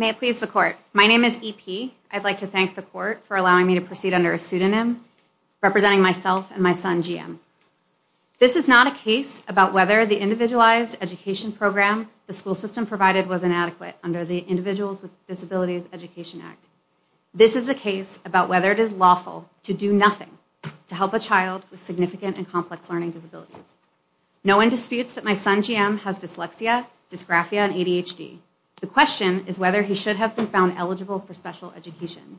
May it please the Court, my name is E.P. I'd like to thank the Court for allowing me to proceed under a pseudonym, representing myself and my son, G.M. This is not a case about whether the individualized education program the school system provided was inadequate under the Individuals with Disabilities Education Act. This is a case about whether it is lawful to do nothing to help a child with significant and complex learning disabilities. No one disputes that my son, G.M., has dyslexia, dysgraphia, and ADHD. The question is whether he should have been found eligible for special education.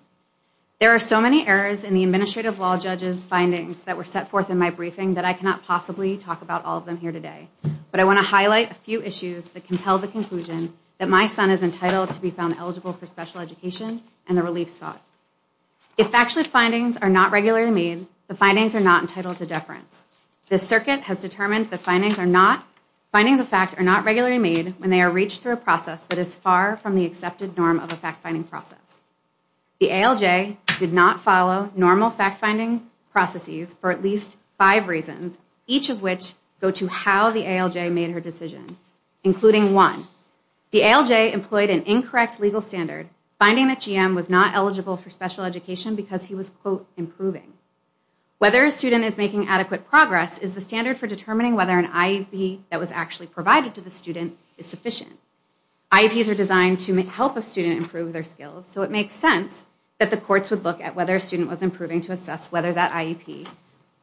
There are so many errors in the Administrative Law Judge's findings that were set forth in my briefing that I cannot possibly talk about all of them here today. But I want to highlight a few issues that compel the conclusion that my son is entitled to be found eligible for special education and the relief sought. If factually findings are not regularly made, the findings are not entitled to deference. The circuit has determined that findings of fact are not regularly made when they are reached through a process that is far from the accepted norm of a fact-finding process. The ALJ did not follow normal fact-finding processes for at least five reasons, each of which go to how the ALJ made her decision, including one. The ALJ employed an incorrect legal standard, finding that G.M. was not eligible for special education because he was, quote, improving. Whether a student is making adequate progress is the standard for determining whether an IEP that was actually provided to the student is sufficient. IEPs are designed to help a student improve their skills, so it makes sense that the courts would look at whether a student was improving to assess whether that IEP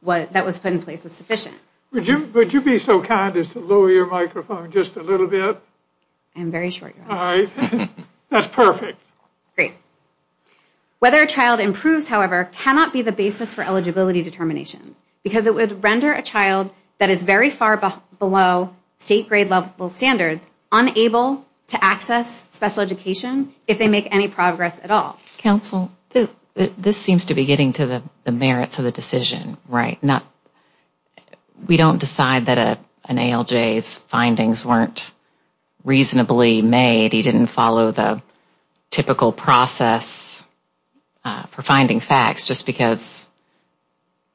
that was put in place was sufficient. Would you be so kind as to lower your microphone just a little bit? I am very short. All right. That's perfect. Great. Whether a child improves, however, cannot be the basis for eligibility determinations, because it would render a child that is very far below state-grade level standards unable to access special education if they make any progress at all. Counsel, this seems to be getting to the merits of the decision, right? We don't decide that an ALJ's findings weren't reasonably made. He didn't follow the typical process for finding facts just because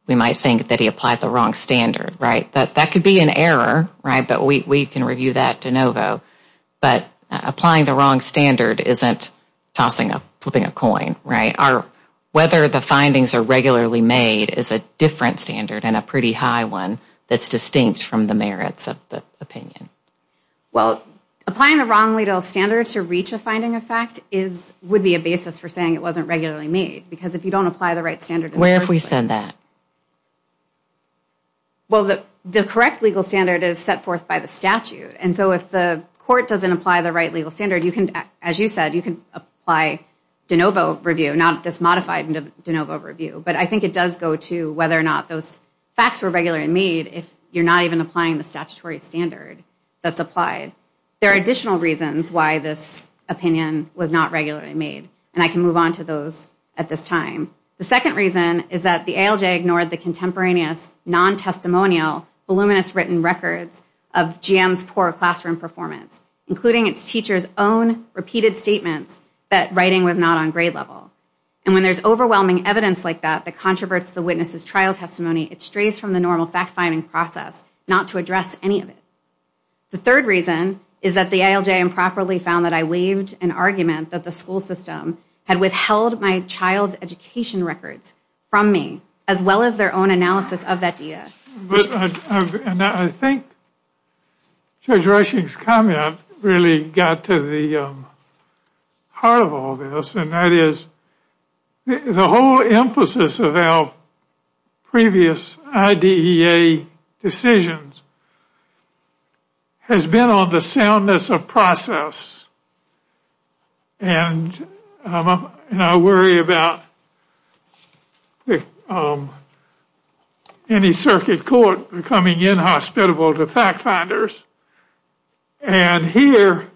we might think that he applied the wrong standard, right? That could be an error, right, but we can review that de novo. But applying the wrong standard isn't tossing a flipping a coin, right? Whether the findings are regularly made is a different standard and a pretty high one that's distinct from the merits of the opinion. Well, applying the wrong legal standard to reach a finding effect would be a basis for saying it wasn't regularly made, because if you don't apply the right standard... Where have we said that? Well, the correct legal standard is set forth by the statute. And so if the court doesn't apply the right legal standard, you can, as you said, you can apply de novo review, not this modified de novo review. But I think it does go to whether or not those facts were regularly made if you're not even applying the statutory standard that's applied. There are additional reasons why this opinion was not regularly made, and I can move on to those at this time. The second reason is that the ALJ ignored the contemporaneous, non-testimonial, voluminous written records of GM's poor classroom performance, including its teachers' own repeated statements that writing was not on grade level. And when there's overwhelming evidence like that that controverts the witness's trial testimony, it strays from the normal fact-finding process, not to address any of it. The third reason is that the ALJ improperly found that I waived an argument that the school system had withheld my child's education records from me, as well as their own analysis of that data. And I think Judge Rushing's comment really got to the heart of all this, and that is the whole emphasis of our previous IDEA decisions has been on the soundness of process. And I worry about any circuit court coming in hospitable to fact-finders, and here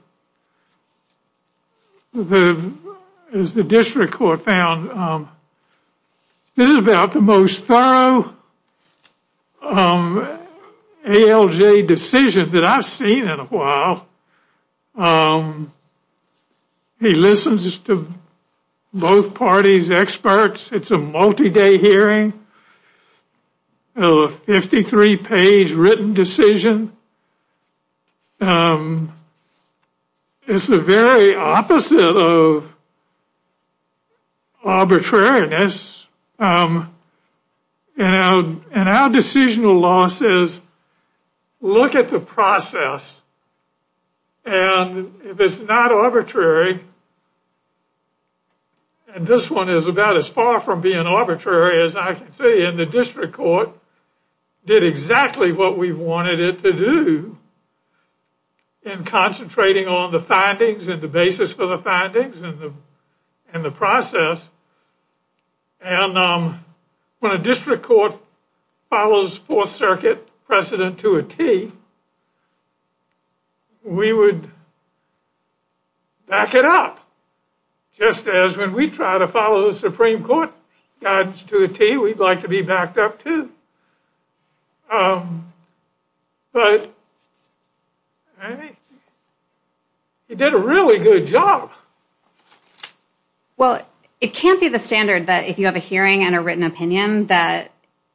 is the district court found this is about the most thorough ALJ decision that I've seen in a while. He listens to both parties' experts. It's a multi-day hearing, a 53-page written decision. It's the very opposite of arbitrariness. And our decisional loss is look at the process, and if it's not arbitrary, and this one is about as far from being arbitrary as I can see, then the district court did exactly what we wanted it to do in concentrating on the findings and the basis for the findings and the process. And when a district court follows Fourth Circuit precedent to a T, we would back it up, just as when we try to follow the Supreme Court guidance to a T, we'd like to be backed up, too. But he did a really good job. Well, it can't be the standard that if you have a hearing and a written opinion that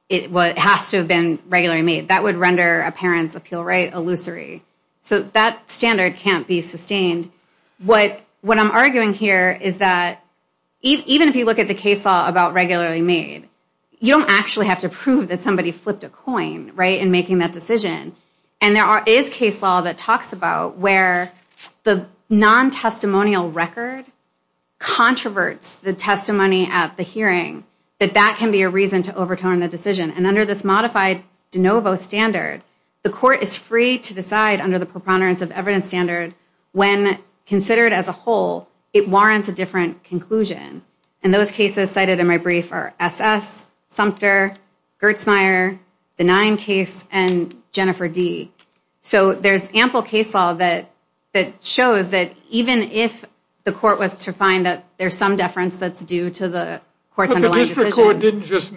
it has to have been regularly made. That would render a parents' appeal right illusory. So that standard can't be sustained. What I'm arguing here is that even if you look at the case law about regularly made, you don't actually have to prove that somebody flipped a coin, right, in making that decision. And there is case law that talks about where the non-testimonial record controverts the testimony at the hearing, that that can be a reason to overturn the decision. And under this modified de novo standard, the court is free to decide under the preponderance of evidence standard when considered as a whole, it warrants a different conclusion. And those cases cited in my brief are S.S., Sumter, Gertzmeyer, the 9 case, and Jennifer D. So there's ample case law that shows that even if the court was to find that there's some deference that's due to the court's underlying decision. But the district court didn't just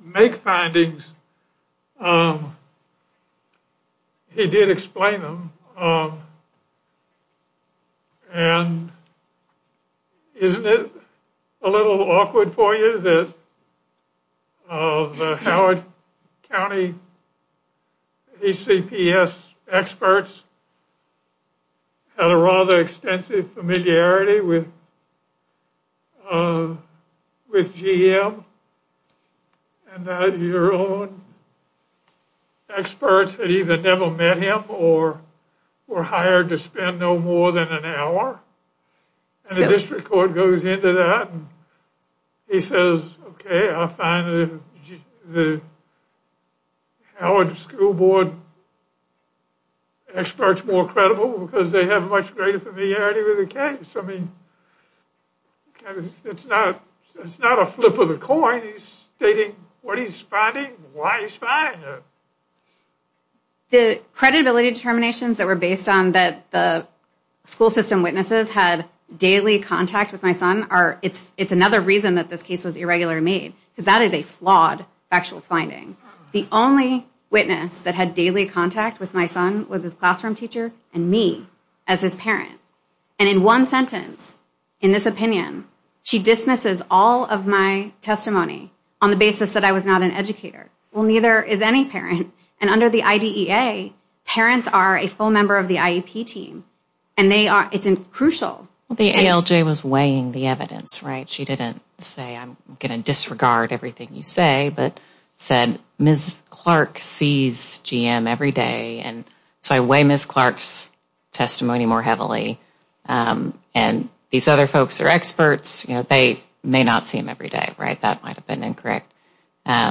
make findings. He did explain them. And isn't it a little awkward for you that the Howard County ACPS experts had a rather extensive familiarity with GM and that your own experts had either never met him or were hired to spend no more than an hour? And the district court goes into that and he says, okay, I'll find the Howard School Board experts more credible because they have much greater familiarity with the case. I mean, it's not a flip of the coin. He's stating what he's finding and why he's finding it. The credibility determinations that were based on that the school system witnesses had daily contact with my son are, it's another reason that this case was irregularly made. Because that is a flawed factual finding. The only witness that had daily contact with my son was his classroom teacher and me as his parent. And in one sentence, in this opinion, she dismisses all of my testimony on the basis that I was not an educator. Well, neither is any parent. And under the IDEA, parents are a full member of the IEP team. And they are, it's crucial. The ALJ was weighing the evidence, right? She didn't say I'm going to disregard everything you say, but said Ms. Clark sees GM every day. And so I weigh Ms. Clark's testimony more heavily. And these other folks are experts. They may not see him every day, right? That might have been incorrect. But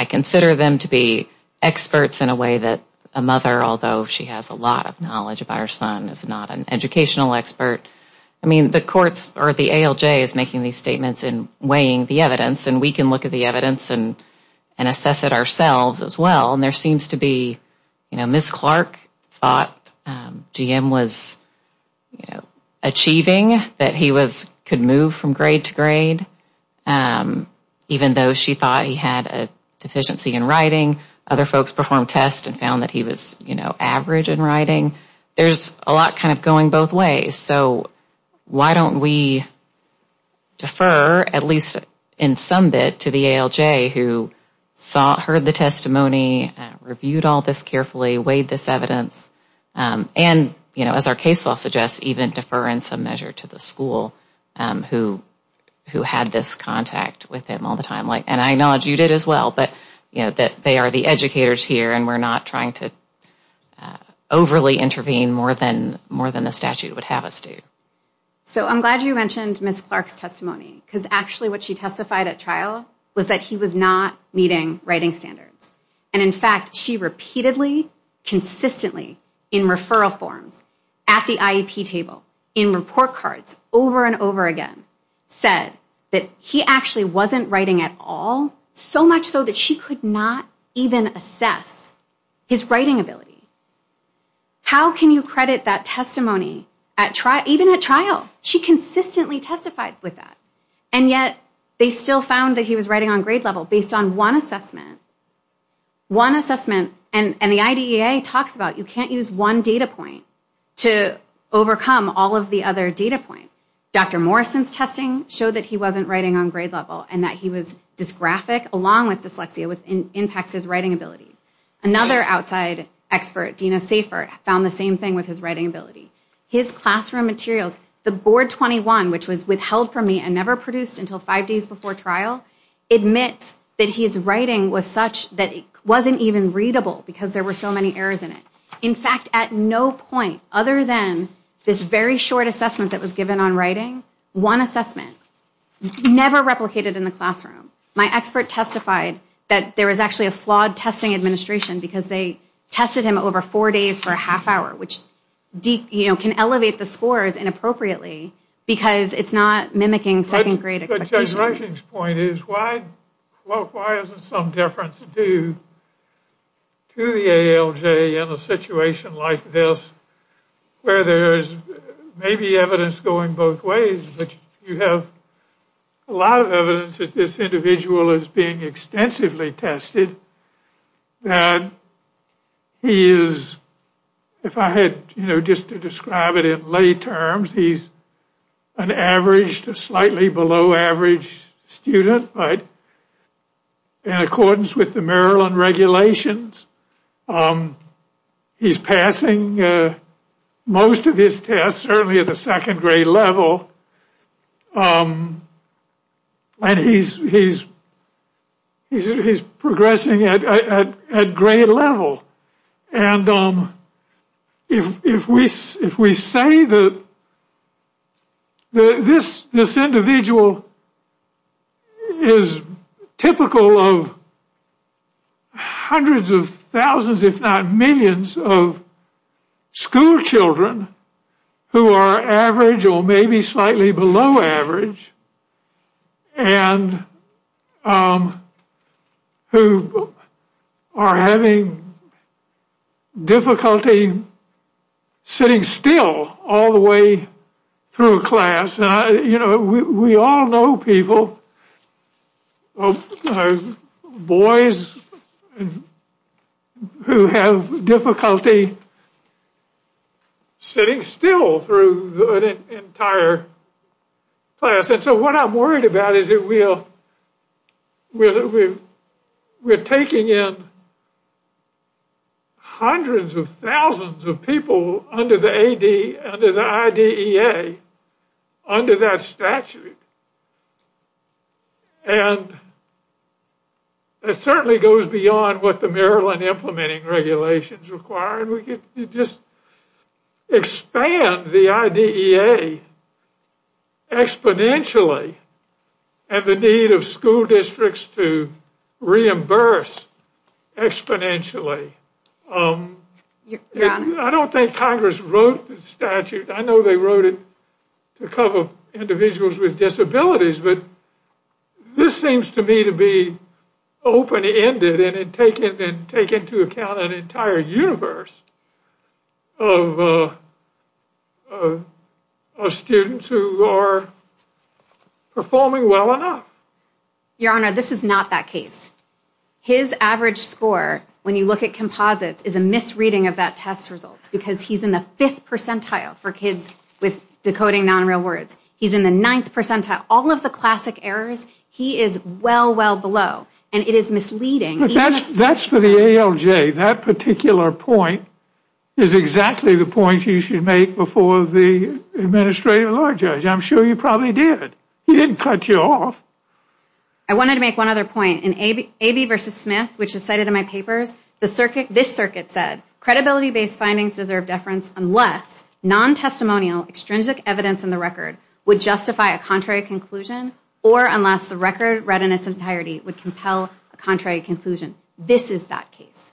I consider them to be experts in a way that a mother, although she has a lot of knowledge about her son, is not an educational expert. I mean, the courts or the ALJ is making these statements and weighing the evidence. And we can look at the evidence and assess it ourselves as well. And there seems to be, you know, Ms. Clark thought GM was, you know, achieving, that he could move from grade to grade. Even though she thought he had a deficiency in writing, other folks performed tests and found that he was, you know, average in writing. There's a lot kind of going both ways. So why don't we defer, at least in some bit, to the ALJ who saw, heard the testimony, reviewed all this carefully, weighed this evidence, and, you know, as our case law suggests, even defer in some measure to the school who had this contact with him all the time. And I acknowledge you did as well. But, you know, they are the educators here, and we're not trying to overly intervene more than the statute would have us do. So I'm glad you mentioned Ms. Clark's testimony. Because actually what she testified at trial was that he was not meeting writing standards. And, in fact, she repeatedly, consistently, in referral forms, at the IEP table, in report cards, over and over again, said that he actually wasn't writing at all, so much so that she could not even assess his writing ability. How can you credit that testimony even at trial? She consistently testified with that. And yet they still found that he was writing on grade level based on one assessment. One assessment, and the IDEA talks about you can't use one data point to overcome all of the other data points. Dr. Morrison's testing showed that he wasn't writing on grade level and that he was dysgraphic along with dyslexia, which impacts his writing ability. Another outside expert, Dina Safer, found the same thing with his writing ability. His classroom materials, the board 21, which was withheld from me and never produced until five days before trial, admits that his writing was such that it wasn't even readable because there were so many errors in it. In fact, at no point other than this very short assessment that was given on writing, one assessment, never replicated in the classroom. My expert testified that there was actually a flawed testing administration because they tested him over four days for a half hour, which can elevate the scores inappropriately because it's not mimicking second grade expectations. But Judge Rushing's point is why isn't some difference due to the ALJ in a situation like this where there is maybe evidence going both ways, but you have a lot of evidence that this individual is being extensively tested. And he is, if I had just to describe it in lay terms, he's an average to slightly below average student. In accordance with the Maryland regulations, he's passing most of his tests certainly at the second grade level. And he's progressing at grade level. And if we say that this individual is typical of hundreds of thousands, if not millions, of school children who are average or maybe slightly below average and who are having difficulty sitting still all the way through class. We all know people, boys who have difficulty sitting still through an entire class. And so what I'm worried about is we're taking in hundreds of thousands of people under the IDEA, under that statute. And it certainly goes beyond what the Maryland implementing regulations require. And we could just expand the IDEA exponentially and the need of school districts to reimburse exponentially. I don't think Congress wrote the statute. I know they wrote it to cover individuals with disabilities. But this seems to me to be open-ended and take into account an entire universe of students who are performing well enough. Your Honor, this is not that case. His average score, when you look at composites, is a misreading of that test result. Because he's in the fifth percentile for kids with decoding non-real words. He's in the ninth percentile. All of the classic errors, he is well, well below. And it is misleading. That's for the ALJ. That particular point is exactly the point you should make before the administrative law judge. I'm sure you probably did. He didn't cut you off. I wanted to make one other point. In AB v. Smith, which is cited in my papers, this circuit said, Credibility-based findings deserve deference unless non-testimonial extrinsic evidence in the record would justify a contrary conclusion or unless the record read in its entirety would compel a contrary conclusion. This is that case.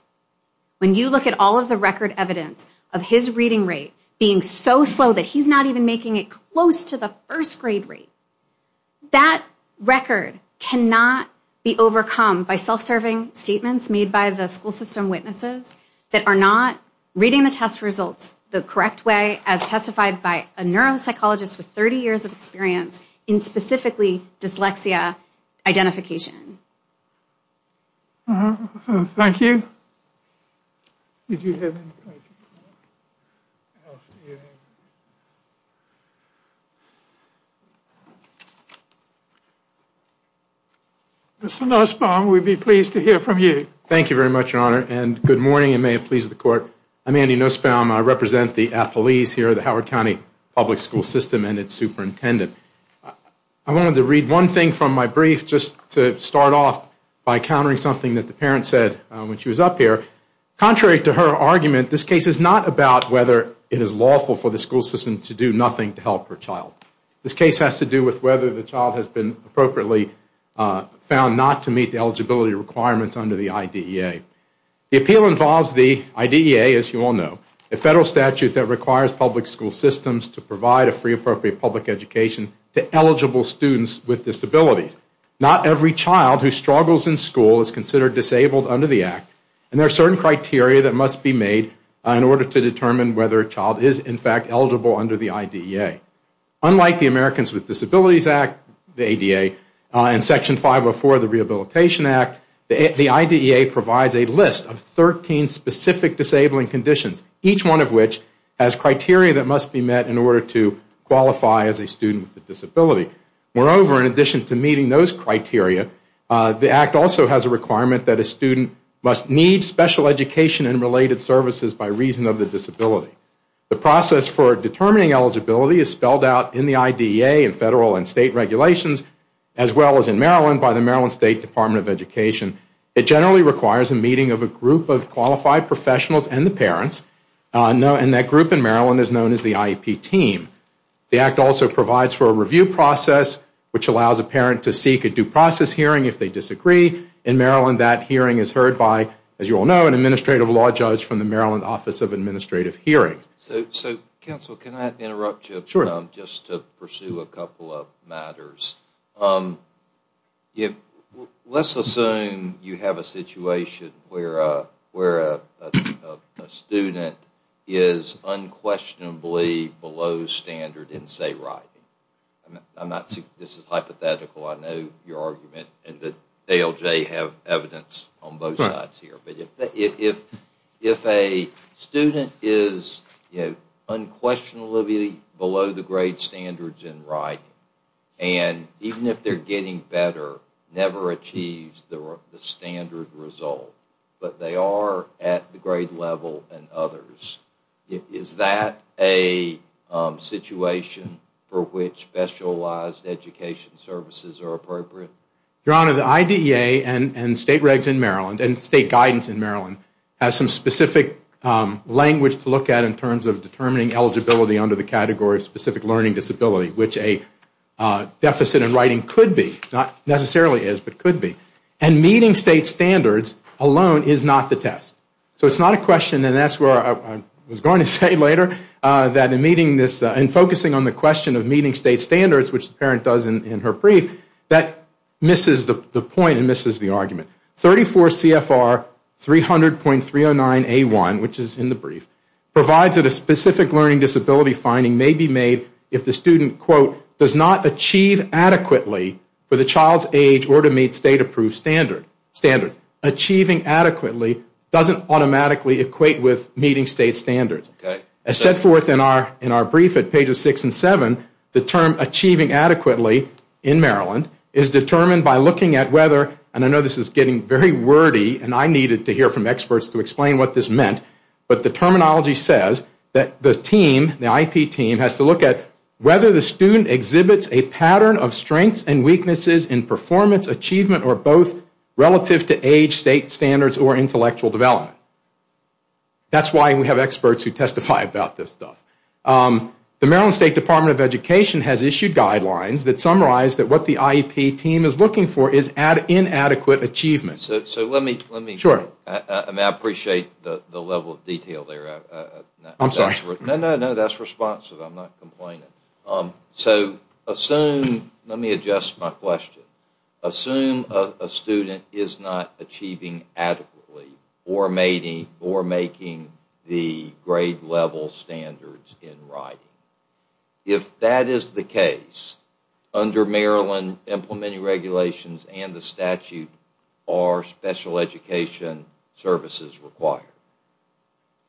When you look at all of the record evidence of his reading rate being so slow that he's not even making it close to the first grade rate, that record cannot be overcome by self-serving statements made by the school system witnesses that are not reading the test results the correct way as testified by a neuropsychologist with 30 years of experience in specifically dyslexia identification. Thank you. Mr. Nussbaum, we'd be pleased to hear from you. Thank you very much, Your Honor. And good morning, and may it please the Court. I'm Andy Nussbaum. I represent the appellees here at the Howard County Public School System and its superintendent. I wanted to read one thing from my brief just to start off by countering something that the parent said when she was up here. Contrary to her argument, this case is not about whether it is lawful for the school system to do nothing to help her child. This case has to do with whether the child has been appropriately found not to meet the eligibility requirements under the IDEA. The appeal involves the IDEA, as you all know, a federal statute that requires public school systems to provide a free, appropriate public education to eligible students with disabilities. Not every child who struggles in school is considered disabled under the Act, and there are certain criteria that must be made in order to determine whether a child is, in fact, eligible under the IDEA. Unlike the Americans with Disabilities Act, the ADA, and Section 504 of the Rehabilitation Act, the IDEA provides a list of 13 specific disabling conditions, each one of which has criteria that must be met in order to qualify as a student with a disability. Moreover, in addition to meeting those criteria, the Act also has a requirement that a student must need special education and related services by reason of the disability. The process for determining eligibility is spelled out in the IDEA in federal and state regulations, as well as in Maryland by the Maryland State Department of Education. It generally requires a meeting of a group of qualified professionals and the parents, and that group in Maryland is known as the IEP team. The Act also provides for a review process, which allows a parent to seek a due process hearing if they disagree. In Maryland, that hearing is heard by, as you all know, an administrative law judge from the Maryland Office of Administrative Hearings. So, counsel, can I interrupt you just to pursue a couple of matters? Let's assume you have a situation where a student is unquestionably below standard in, say, writing. This is hypothetical, I know your argument, and that ALJ have evidence on both sides here. But if a student is unquestionably below the grade standards in writing, and even if they're getting better, never achieves the standard result, but they are at the grade level in others, is that a situation for which specialized education services are appropriate? Your Honor, the IDEA and state regs in Maryland, and state guidance in Maryland, has some specific language to look at in terms of determining eligibility under the category of specific learning disability, which a deficit in writing could be, not necessarily is, but could be. And meeting state standards alone is not the test. So it's not a question, and that's where I was going to say later, in focusing on the question of meeting state standards, which the parent does in her brief, that misses the point and misses the argument. 34 CFR 300.309A1, which is in the brief, provides that a specific learning disability finding may be made if the student, quote, does not achieve adequately for the child's age or to meet state approved standards. Achieving adequately doesn't automatically equate with meeting state standards. As set forth in our brief at pages 6 and 7, the term achieving adequately in Maryland is determined by looking at whether, and I know this is getting very wordy, and I needed to hear from experts to explain what this meant, but the terminology says that the team, the IP team, has to look at whether the student exhibits a pattern of strengths and weaknesses in performance, achievement, or both relative to age, state standards, or intellectual development. That's why we have experts who testify about this stuff. The Maryland State Department of Education has issued guidelines that summarize that what the IEP team is looking for is inadequate achievement. So let me... Sure. I mean, I appreciate the level of detail there. I'm sorry. No, no, no, that's responsive. I'm not complaining. So assume, let me adjust my question. Assume a student is not achieving adequately or making the grade level standards in writing. If that is the case, under Maryland implementing regulations and the statute, are special education services required?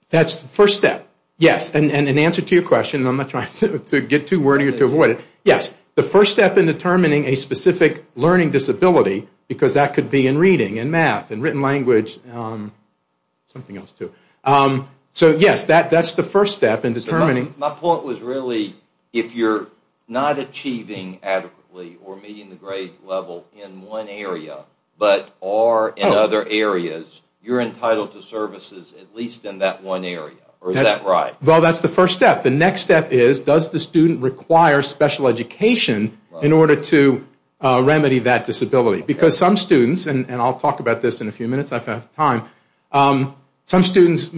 That's the first step. Yes, and in answer to your question, and I'm not trying to get too wordy or to avoid it, yes, the first step in determining a specific learning disability, because that could be in reading, in math, in written language, something else too. So yes, that's the first step in determining... My point was really, if you're not achieving adequately or meeting the grade level in one area, but are in other areas, you're entitled to services at least in that one area. Or is that right? Well, that's the first step. The next step is, does the student require special education in order to remedy that disability? Because some students, and I'll talk about this in a few minutes. I've got time. Some students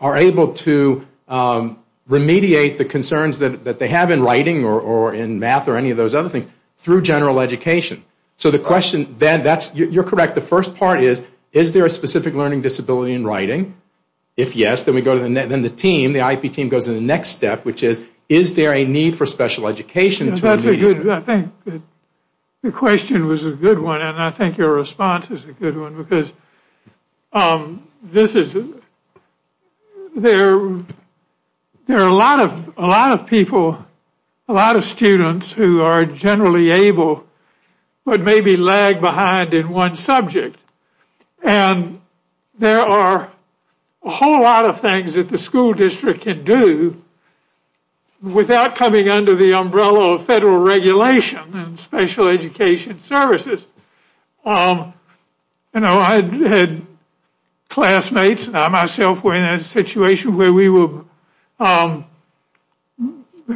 are able to remediate the concerns that they have in writing or in math or any of those other things through general education. So the question then, you're correct, the first part is, is there a specific learning disability in writing? If yes, then the team, the IEP team, goes to the next step, which is, is there a need for special education to remedy? I think the question was a good one, and I think your response is a good one, because there are a lot of people, a lot of students who are generally able, but maybe lag behind in one subject. And there are a whole lot of things that the school district can do without coming under the umbrella of federal regulation and special education services. You know, I had classmates and I myself were in a situation where we were, the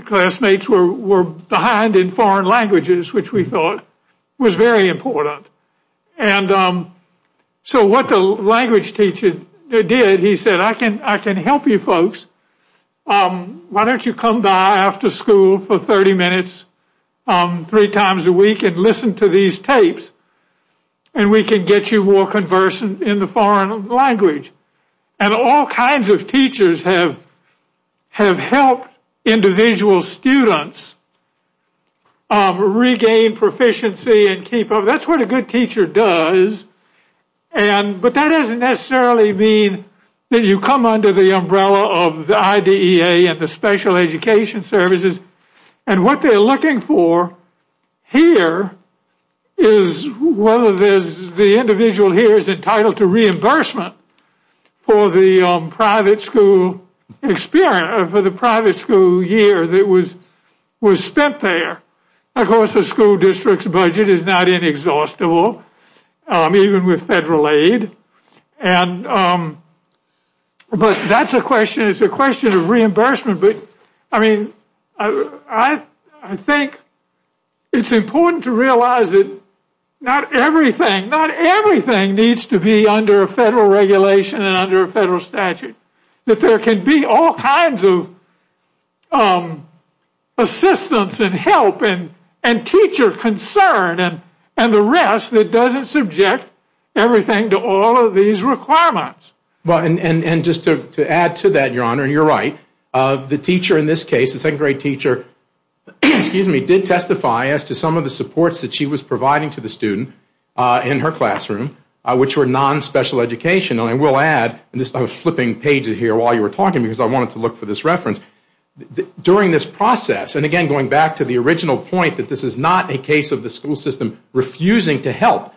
classmates were behind in foreign languages, which we thought was very important. And so what the language teacher did, he said, I can help you folks. Why don't you come by after school for 30 minutes three times a week and listen to these tapes and we can get you more conversant in the foreign language. And all kinds of teachers have helped individual students regain proficiency and keep up, that's what a good teacher does. But that doesn't necessarily mean that you come under the umbrella of the IDEA and the special education services. And what they're looking for here is whether the individual here is entitled to reimbursement for the private school experience, for the private school year that was spent there. Of course, the school district's budget is not inexhaustible, even with federal aid. And, but that's a question, it's a question of reimbursement. But, I mean, I think it's important to realize that not everything, not everything needs to be under a federal regulation and under a federal statute. That there can be all kinds of assistance and help and teacher concern and the rest that doesn't subject everything to all of these requirements. Well, and just to add to that, Your Honor, you're right. The teacher in this case, the second grade teacher, did testify as to some of the supports that she was providing to the student in her classroom, which were non-special education. And I will add, and I was flipping pages here while you were talking because I wanted to look for this reference. During this process, and again, going back to the original point, that this is not a case of the school system refusing to help.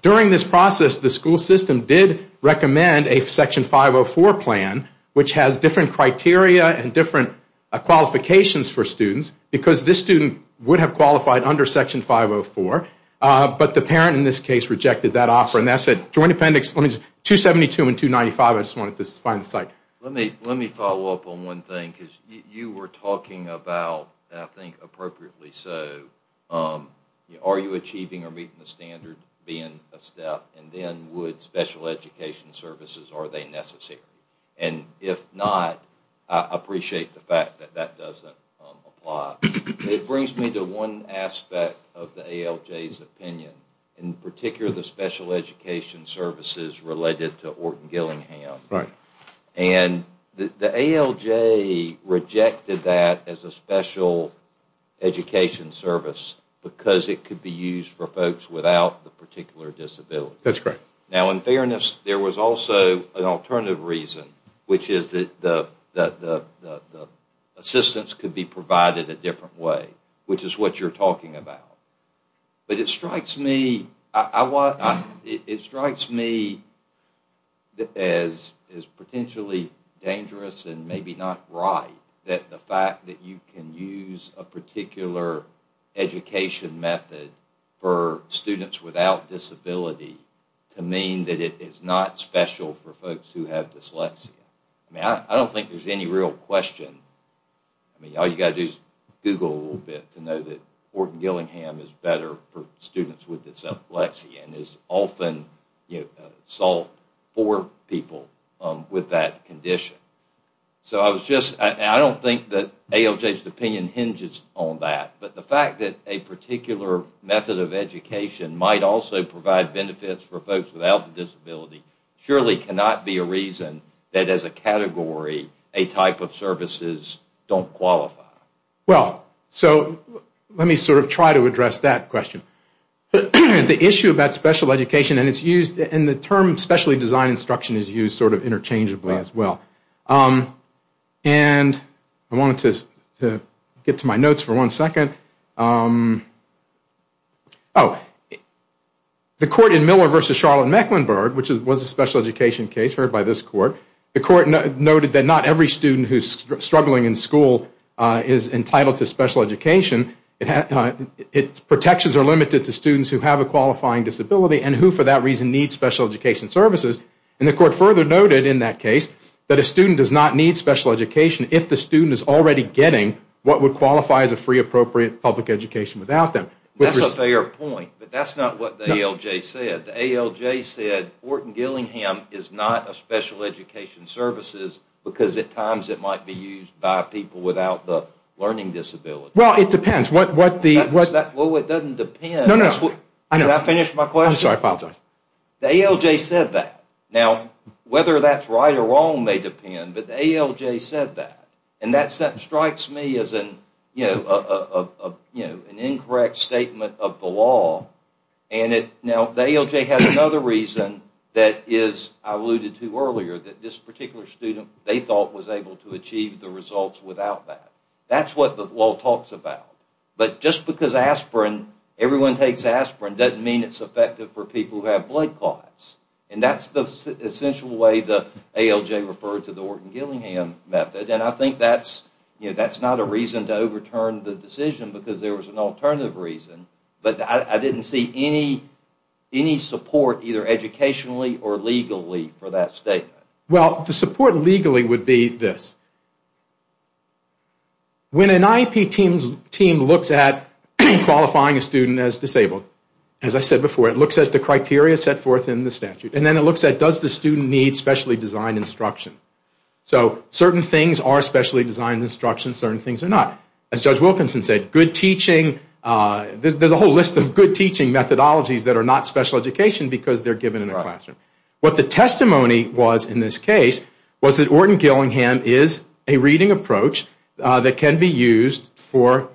During this process, the school system did recommend a Section 504 plan, which has different criteria and different qualifications for students, because this student would have qualified under Section 504, but the parent in this case rejected that offer. And that's a Joint Appendix 272 and 295. I just wanted to find the site. Let me follow up on one thing, because you were talking about, and I think appropriately so, are you achieving or meeting the standard being a step, and then would special education services, are they necessary? And if not, I appreciate the fact that that doesn't apply. It brings me to one aspect of the ALJ's opinion, in particular the special education services related to Orton-Gillingham. Right. And the ALJ rejected that as a special education service because it could be used for folks without the particular disability. That's correct. Now, in fairness, there was also an alternative reason, which is that the assistance could be provided a different way, which is what you're talking about. But it strikes me as potentially dangerous and maybe not right that the fact that you can use a particular education method for students without disability to mean that it is not special for folks who have dyslexia. I don't think there's any real question. I mean, all you've got to do is Google a little bit to know that Orton-Gillingham is better for students with dyslexia and is often sought for people with that condition. So I was just, and I don't think that ALJ's opinion hinges on that, but the fact that a particular method of education might also provide benefits for folks without the disability surely cannot be a reason that, as a category, a type of services don't qualify. Well, so let me sort of try to address that question. The issue about special education, and it's used, and the term specially designed instruction is used sort of interchangeably as well. And I wanted to get to my notes for one second. Oh, the court in Miller v. Charlotte-Mecklenburg, which was a special education case heard by this court, the court noted that not every student who's struggling in school is entitled to special education. Its protections are limited to students who have a qualifying disability and who, for that reason, need special education services. And the court further noted in that case that a student does not need special education if the student is already getting what would qualify as a free appropriate public education without them. That's a fair point, but that's not what the ALJ said. The ALJ said Fortin-Gillingham is not a special education services because at times it might be used by people without the learning disability. Well, it depends. Well, it doesn't depend. Did I finish my question? I'm sorry, I apologize. The ALJ said that. Now, whether that's right or wrong may depend, but the ALJ said that. And that strikes me as an incorrect statement of the law. Now, the ALJ has another reason that I alluded to earlier, that this particular student, they thought, was able to achieve the results without that. That's what the law talks about. But just because everyone takes aspirin doesn't mean it's effective for people who have blood clots. And that's the essential way the ALJ referred to the Fortin-Gillingham method, and I think that's not a reason to overturn the decision because there was an alternative reason. But I didn't see any support, either educationally or legally, for that statement. Well, the support legally would be this. When an IEP team looks at qualifying a student as disabled, as I said before, it looks at the criteria set forth in the statute, and then it looks at does the student need specially designed instruction. So certain things are specially designed instruction, certain things are not. As Judge Wilkinson said, there's a whole list of good teaching methodologies that are not special education because they're given in a classroom. What the testimony was in this case was that Orton-Gillingham is a reading approach that can be used for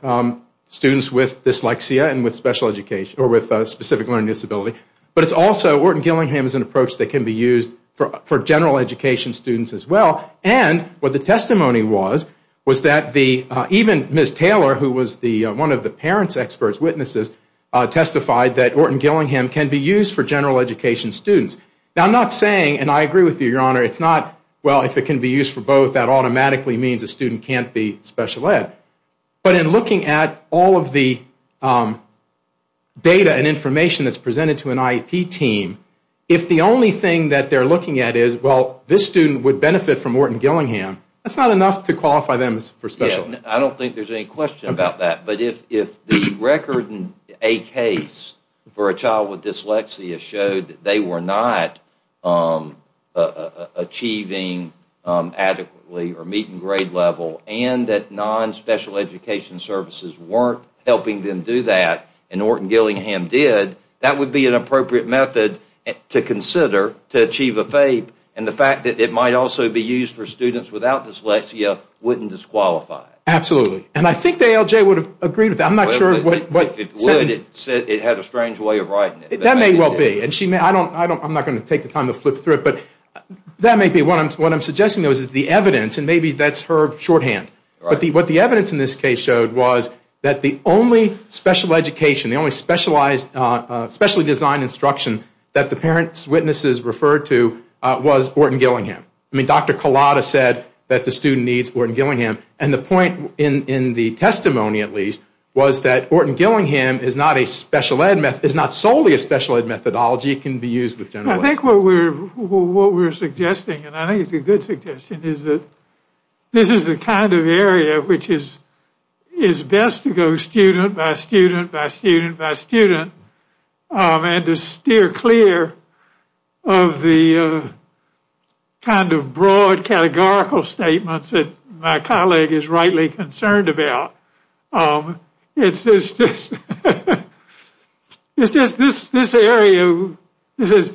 students with dyslexia and with specific learning disability, but it's also Orton-Gillingham is an approach that can be used for general education students as well. And what the testimony was was that even Ms. Taylor, who was one of the parents' expert witnesses, testified that Orton-Gillingham can be used for general education students. Now, I'm not saying, and I agree with you, Your Honor, it's not, well, if it can be used for both, that automatically means a student can't be special ed. But in looking at all of the data and information that's presented to an IEP team, if the only thing that they're looking at is, well, this student would benefit from Orton-Gillingham, that's not enough to qualify them for special ed. I don't think there's any question about that. But if the record in a case for a child with dyslexia showed that they were not achieving adequately or meeting grade level, and that non-special education services weren't helping them do that, and Orton-Gillingham did, that would be an appropriate method to consider to achieve a FAPE. And the fact that it might also be used for students without dyslexia wouldn't disqualify it. Absolutely. And I think the ALJ would have agreed with that. I'm not sure what... If it would, it had a strange way of writing it. That may well be. I'm not going to take the time to flip through it, but that may be what I'm suggesting is the evidence, and maybe that's her shorthand. But what the evidence in this case showed was that the only special education, the only specially designed instruction that the parent's witnesses referred to was Orton-Gillingham. I mean, Dr. Collada said that the student needs Orton-Gillingham. And the point in the testimony, at least, was that Orton-Gillingham is not solely a special ed methodology, it can be used with general education. I think what we're suggesting, and I think it's a good suggestion, is that this is the kind of area which is best to go student by student by student by student and to steer clear of the kind of broad categorical statements that my colleague is rightly concerned about. It's just this area that says,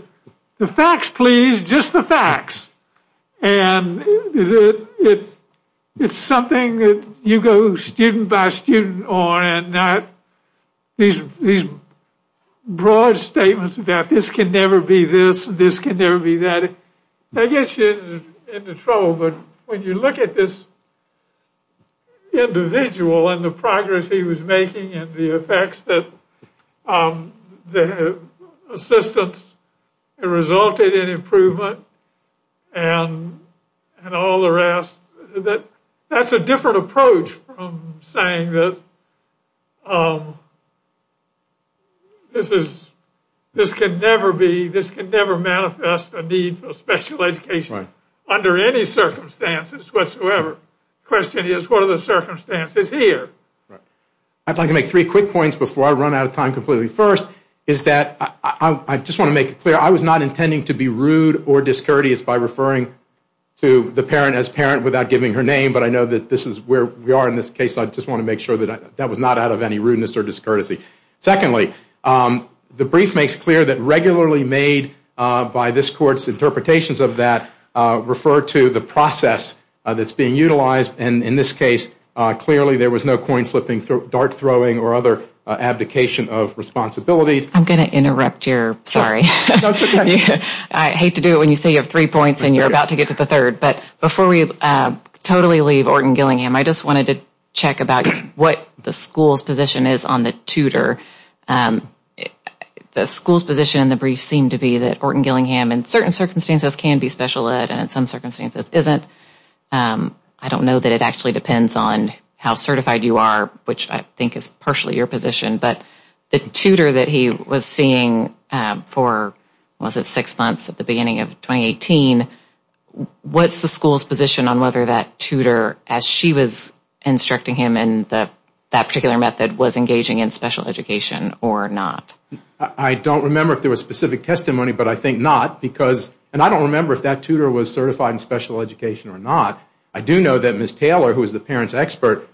the facts, please, just the facts. And it's something that you go student by student on, and these broad statements about this can never be this, this can never be that, they get you into trouble. But when you look at this individual and the progress he was making and the effects that assistance resulted in improvement and all the rest, that's a different approach from saying that this is, this can never be, this can never manifest a need for special education under any circumstances whatsoever. The question is, what are the circumstances here? I'd like to make three quick points before I run out of time completely. First is that, I just want to make it clear, I was not intending to be rude or discourteous by referring to the parent as parent without giving her name, but I know that this is where we are in this case, so I just want to make sure that that was not out of any rudeness or discourtesy. Secondly, the brief makes clear that regularly made by this court's interpretations of that refer to the process that's being utilized, and in this case, clearly there was no coin flipping, dart throwing, or other abdication of responsibilities. I'm going to interrupt your, sorry. That's okay. I hate to do it when you say you have three points and you're about to get to the third, but before we totally leave Orton-Gillingham, I just wanted to check about what the school's position is on the tutor. The school's position in the brief seemed to be that Orton-Gillingham, in certain circumstances, can be special ed and in some circumstances isn't. I don't know that it actually depends on how certified you are, which I think is partially your position, but the tutor that he was seeing for, what was it, six months at the beginning of 2018, what's the school's position on whether that tutor, as she was instructing him in that particular method, was engaging in special education or not? I don't remember if there was specific testimony, but I think not, and I don't remember if that tutor was certified in special education or not. I do know that Ms. Taylor, who is the parent's expert,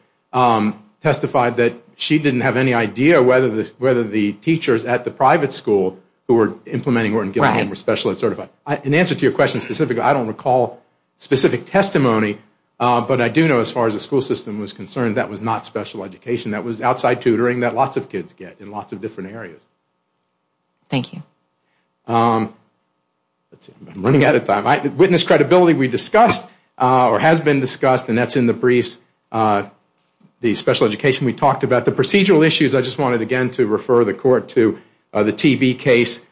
testified that she didn't have any idea whether the teachers at the private school who were implementing Orton-Gillingham were special ed certified. In answer to your question specifically, I don't recall specific testimony, but I do know as far as the school system was concerned, that was not special education. That was outside tutoring that lots of kids get in lots of different areas. Thank you. I'm running out of time. Witness credibility we discussed or has been discussed, and that's in the briefs, the special education we talked about. The procedural issues, I just wanted again to refer the court to the TB case,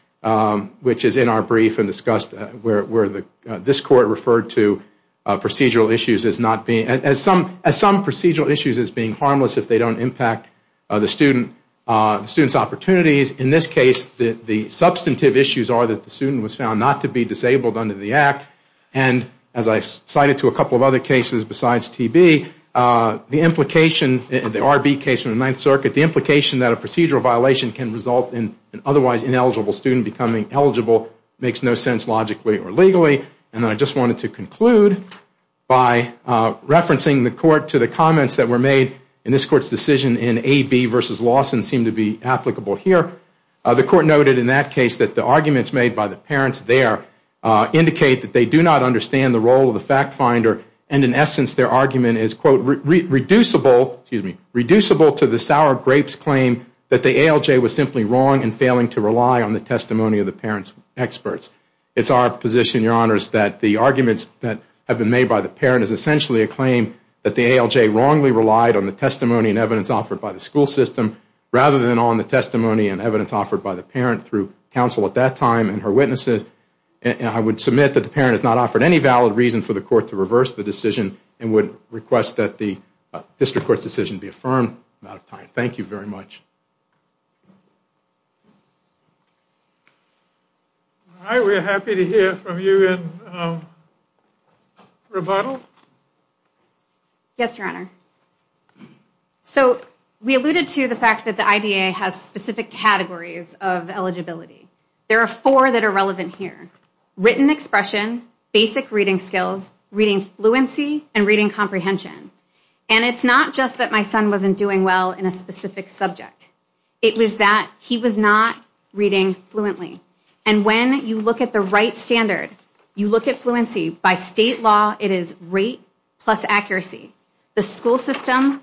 which is in our brief and discussed where this court referred to procedural issues as not being, as some procedural issues as being harmless if they don't impact the student's opportunities. In this case, the substantive issues are that the student was found not to be disabled under the act, and as I cited to a couple of other cases besides TB, the implication, the RB case from the Ninth Circuit, the implication that a procedural violation can result in an otherwise ineligible student becoming eligible makes no sense logically or legally. And I just wanted to conclude by referencing the court to the comments that were made in this court's decision in AB versus Lawson seemed to be applicable here. The court noted in that case that the arguments made by the parents there indicate that they do not understand the role of the fact finder and in essence their argument is, quote, reducible to the sour grapes claim that the ALJ was simply wrong in failing to rely on the testimony of the parent's experts. It's our position, Your Honors, that the arguments that have been made by the parent is essentially a claim that the ALJ wrongly relied on the testimony and evidence offered by the school system rather than on the testimony and evidence offered by the parent through counsel at that time and her witnesses. I would submit that the parent has not offered any valid reason for the court to reverse the decision and would request that the district court's decision be affirmed. I'm out of time. Thank you very much. All right. We're happy to hear from you in rebuttal. Yes, Your Honor. So we alluded to the fact that the IDA has specific categories of eligibility. There are four that are relevant here. Written expression, basic reading skills, reading fluency, and reading comprehension. And it's not just that my son wasn't doing well in a specific subject. It was that he was not reading fluently. And when you look at the right standard, you look at fluency. By state law, it is rate plus accuracy. The school system,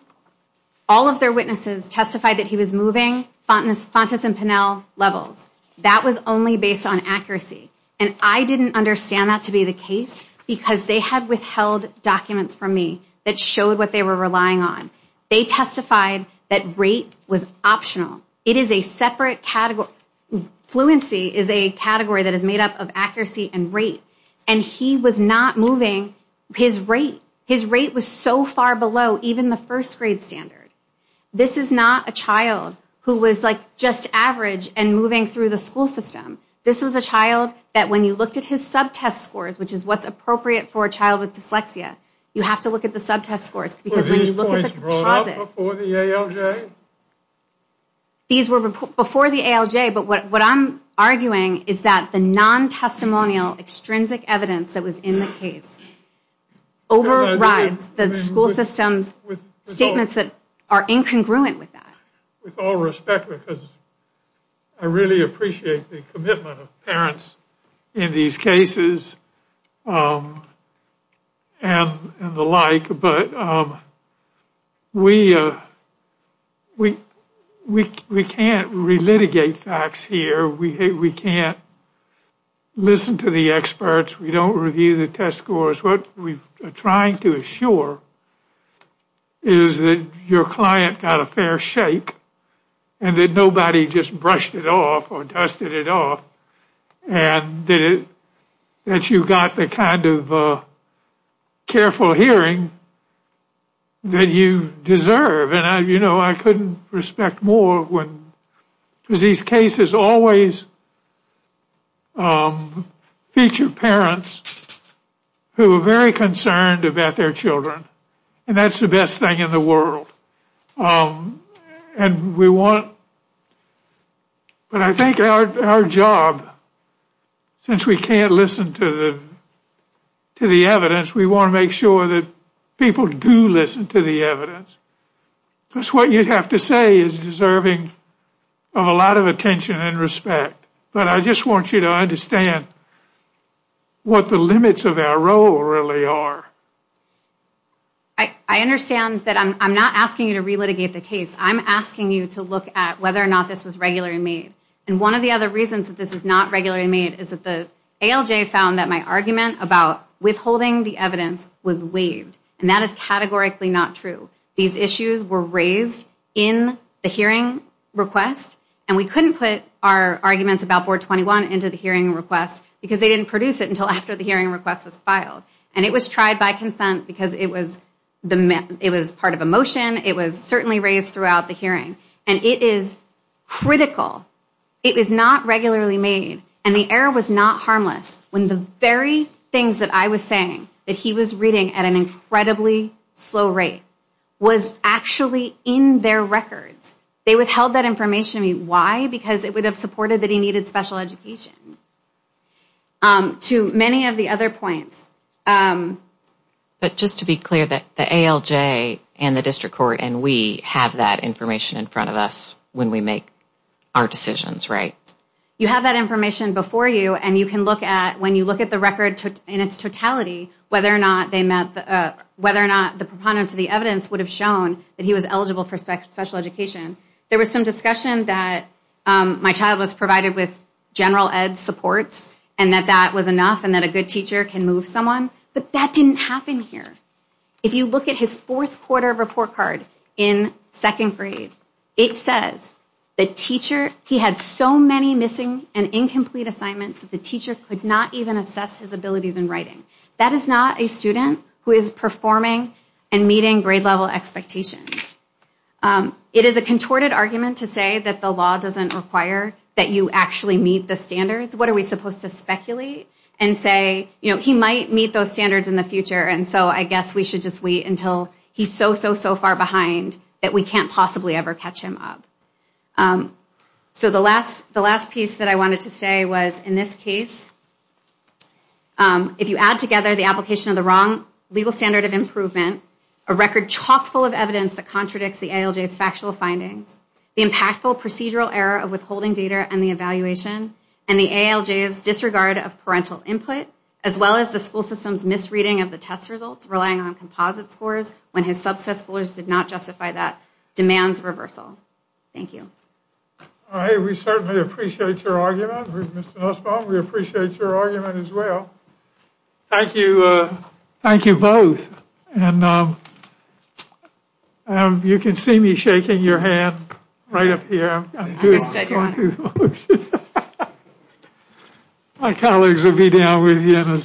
all of their witnesses testified that he was moving levels. That was only based on accuracy. And I didn't understand that to be the case because they had withheld documents from me that showed what they were relying on. They testified that rate was optional. It is a separate category. Fluency is a category that is made up of accuracy and rate. And he was not moving his rate. His rate was so far below even the first grade standard. This is not a child who was like just average and moving through the school system. This was a child that when you looked at his subtest scores, which is what's appropriate for a child with dyslexia, you have to look at the subtest scores because when you look at the composite. Were these points brought up before the ALJ? These were before the ALJ, but what I'm arguing is that the non-testimonial extrinsic evidence that was in the case overrides the school system's statements that are incongruent with that. With all respect, because I really appreciate the commitment of parents in these cases and the like, but we can't relitigate facts here. We can't listen to the experts. We don't review the test scores. What we are trying to assure is that your client got a fair shake and that nobody just brushed it off or dusted it off and that you got the kind of careful hearing that you deserve. I couldn't respect more because these cases always feature parents who are very concerned about their children, and that's the best thing in the world. But I think our job, since we can't listen to the evidence, we want to make sure that people do listen to the evidence. Because what you have to say is deserving of a lot of attention and respect. But I just want you to understand what the limits of our role really are. I understand that I'm not asking you to relitigate the case. I'm asking you to look at whether or not this was regularly made. And one of the other reasons that this is not regularly made is that the ALJ found that my argument about withholding the evidence was waived. And that is categorically not true. These issues were raised in the hearing request, and we couldn't put our arguments about 421 into the hearing request because they didn't produce it until after the hearing request was filed. And it was tried by consent because it was part of a motion. It was certainly raised throughout the hearing. And it is critical. It was not regularly made, and the error was not harmless when the very things that I was saying that he was reading at an incredibly slow rate was actually in their records. They withheld that information to me. Why? Because it would have supported that he needed special education. To many of the other points. But just to be clear, the ALJ and the district court and we have that information in front of us when we make our decisions, right? You have that information before you, and you can look at, when you look at the record in its totality, whether or not the proponents of the evidence would have shown that he was eligible for special education. There was some discussion that my child was provided with general ed supports and that that was enough and that a good teacher can move someone, but that didn't happen here. If you look at his fourth quarter report card in second grade, it says the teacher, he had so many missing and incomplete assignments that the teacher could not even assess his abilities in writing. That is not a student who is performing and meeting grade level expectations. It is a contorted argument to say that the law doesn't require that you actually meet the standards. What are we supposed to speculate and say, you know, he might meet those standards in the future and so I guess we should just wait until he's so, so, so far behind that we can't possibly ever catch him up. So the last piece that I wanted to say was, in this case, if you add together the application of the wrong legal standard of improvement, a record chock full of evidence that contradicts the ALJ's factual findings, the impactful procedural error of withholding data and the evaluation, and the ALJ's disregard of parental input, as well as the school system's misreading of the test results relying on composite scores when his subset schoolers did not justify that, demands reversal. Thank you. All right, we certainly appreciate your argument, Mr. Nussbaum. We appreciate your argument as well. Thank you. Thank you both. Understood, Your Honor. My colleagues will be down with you in a second.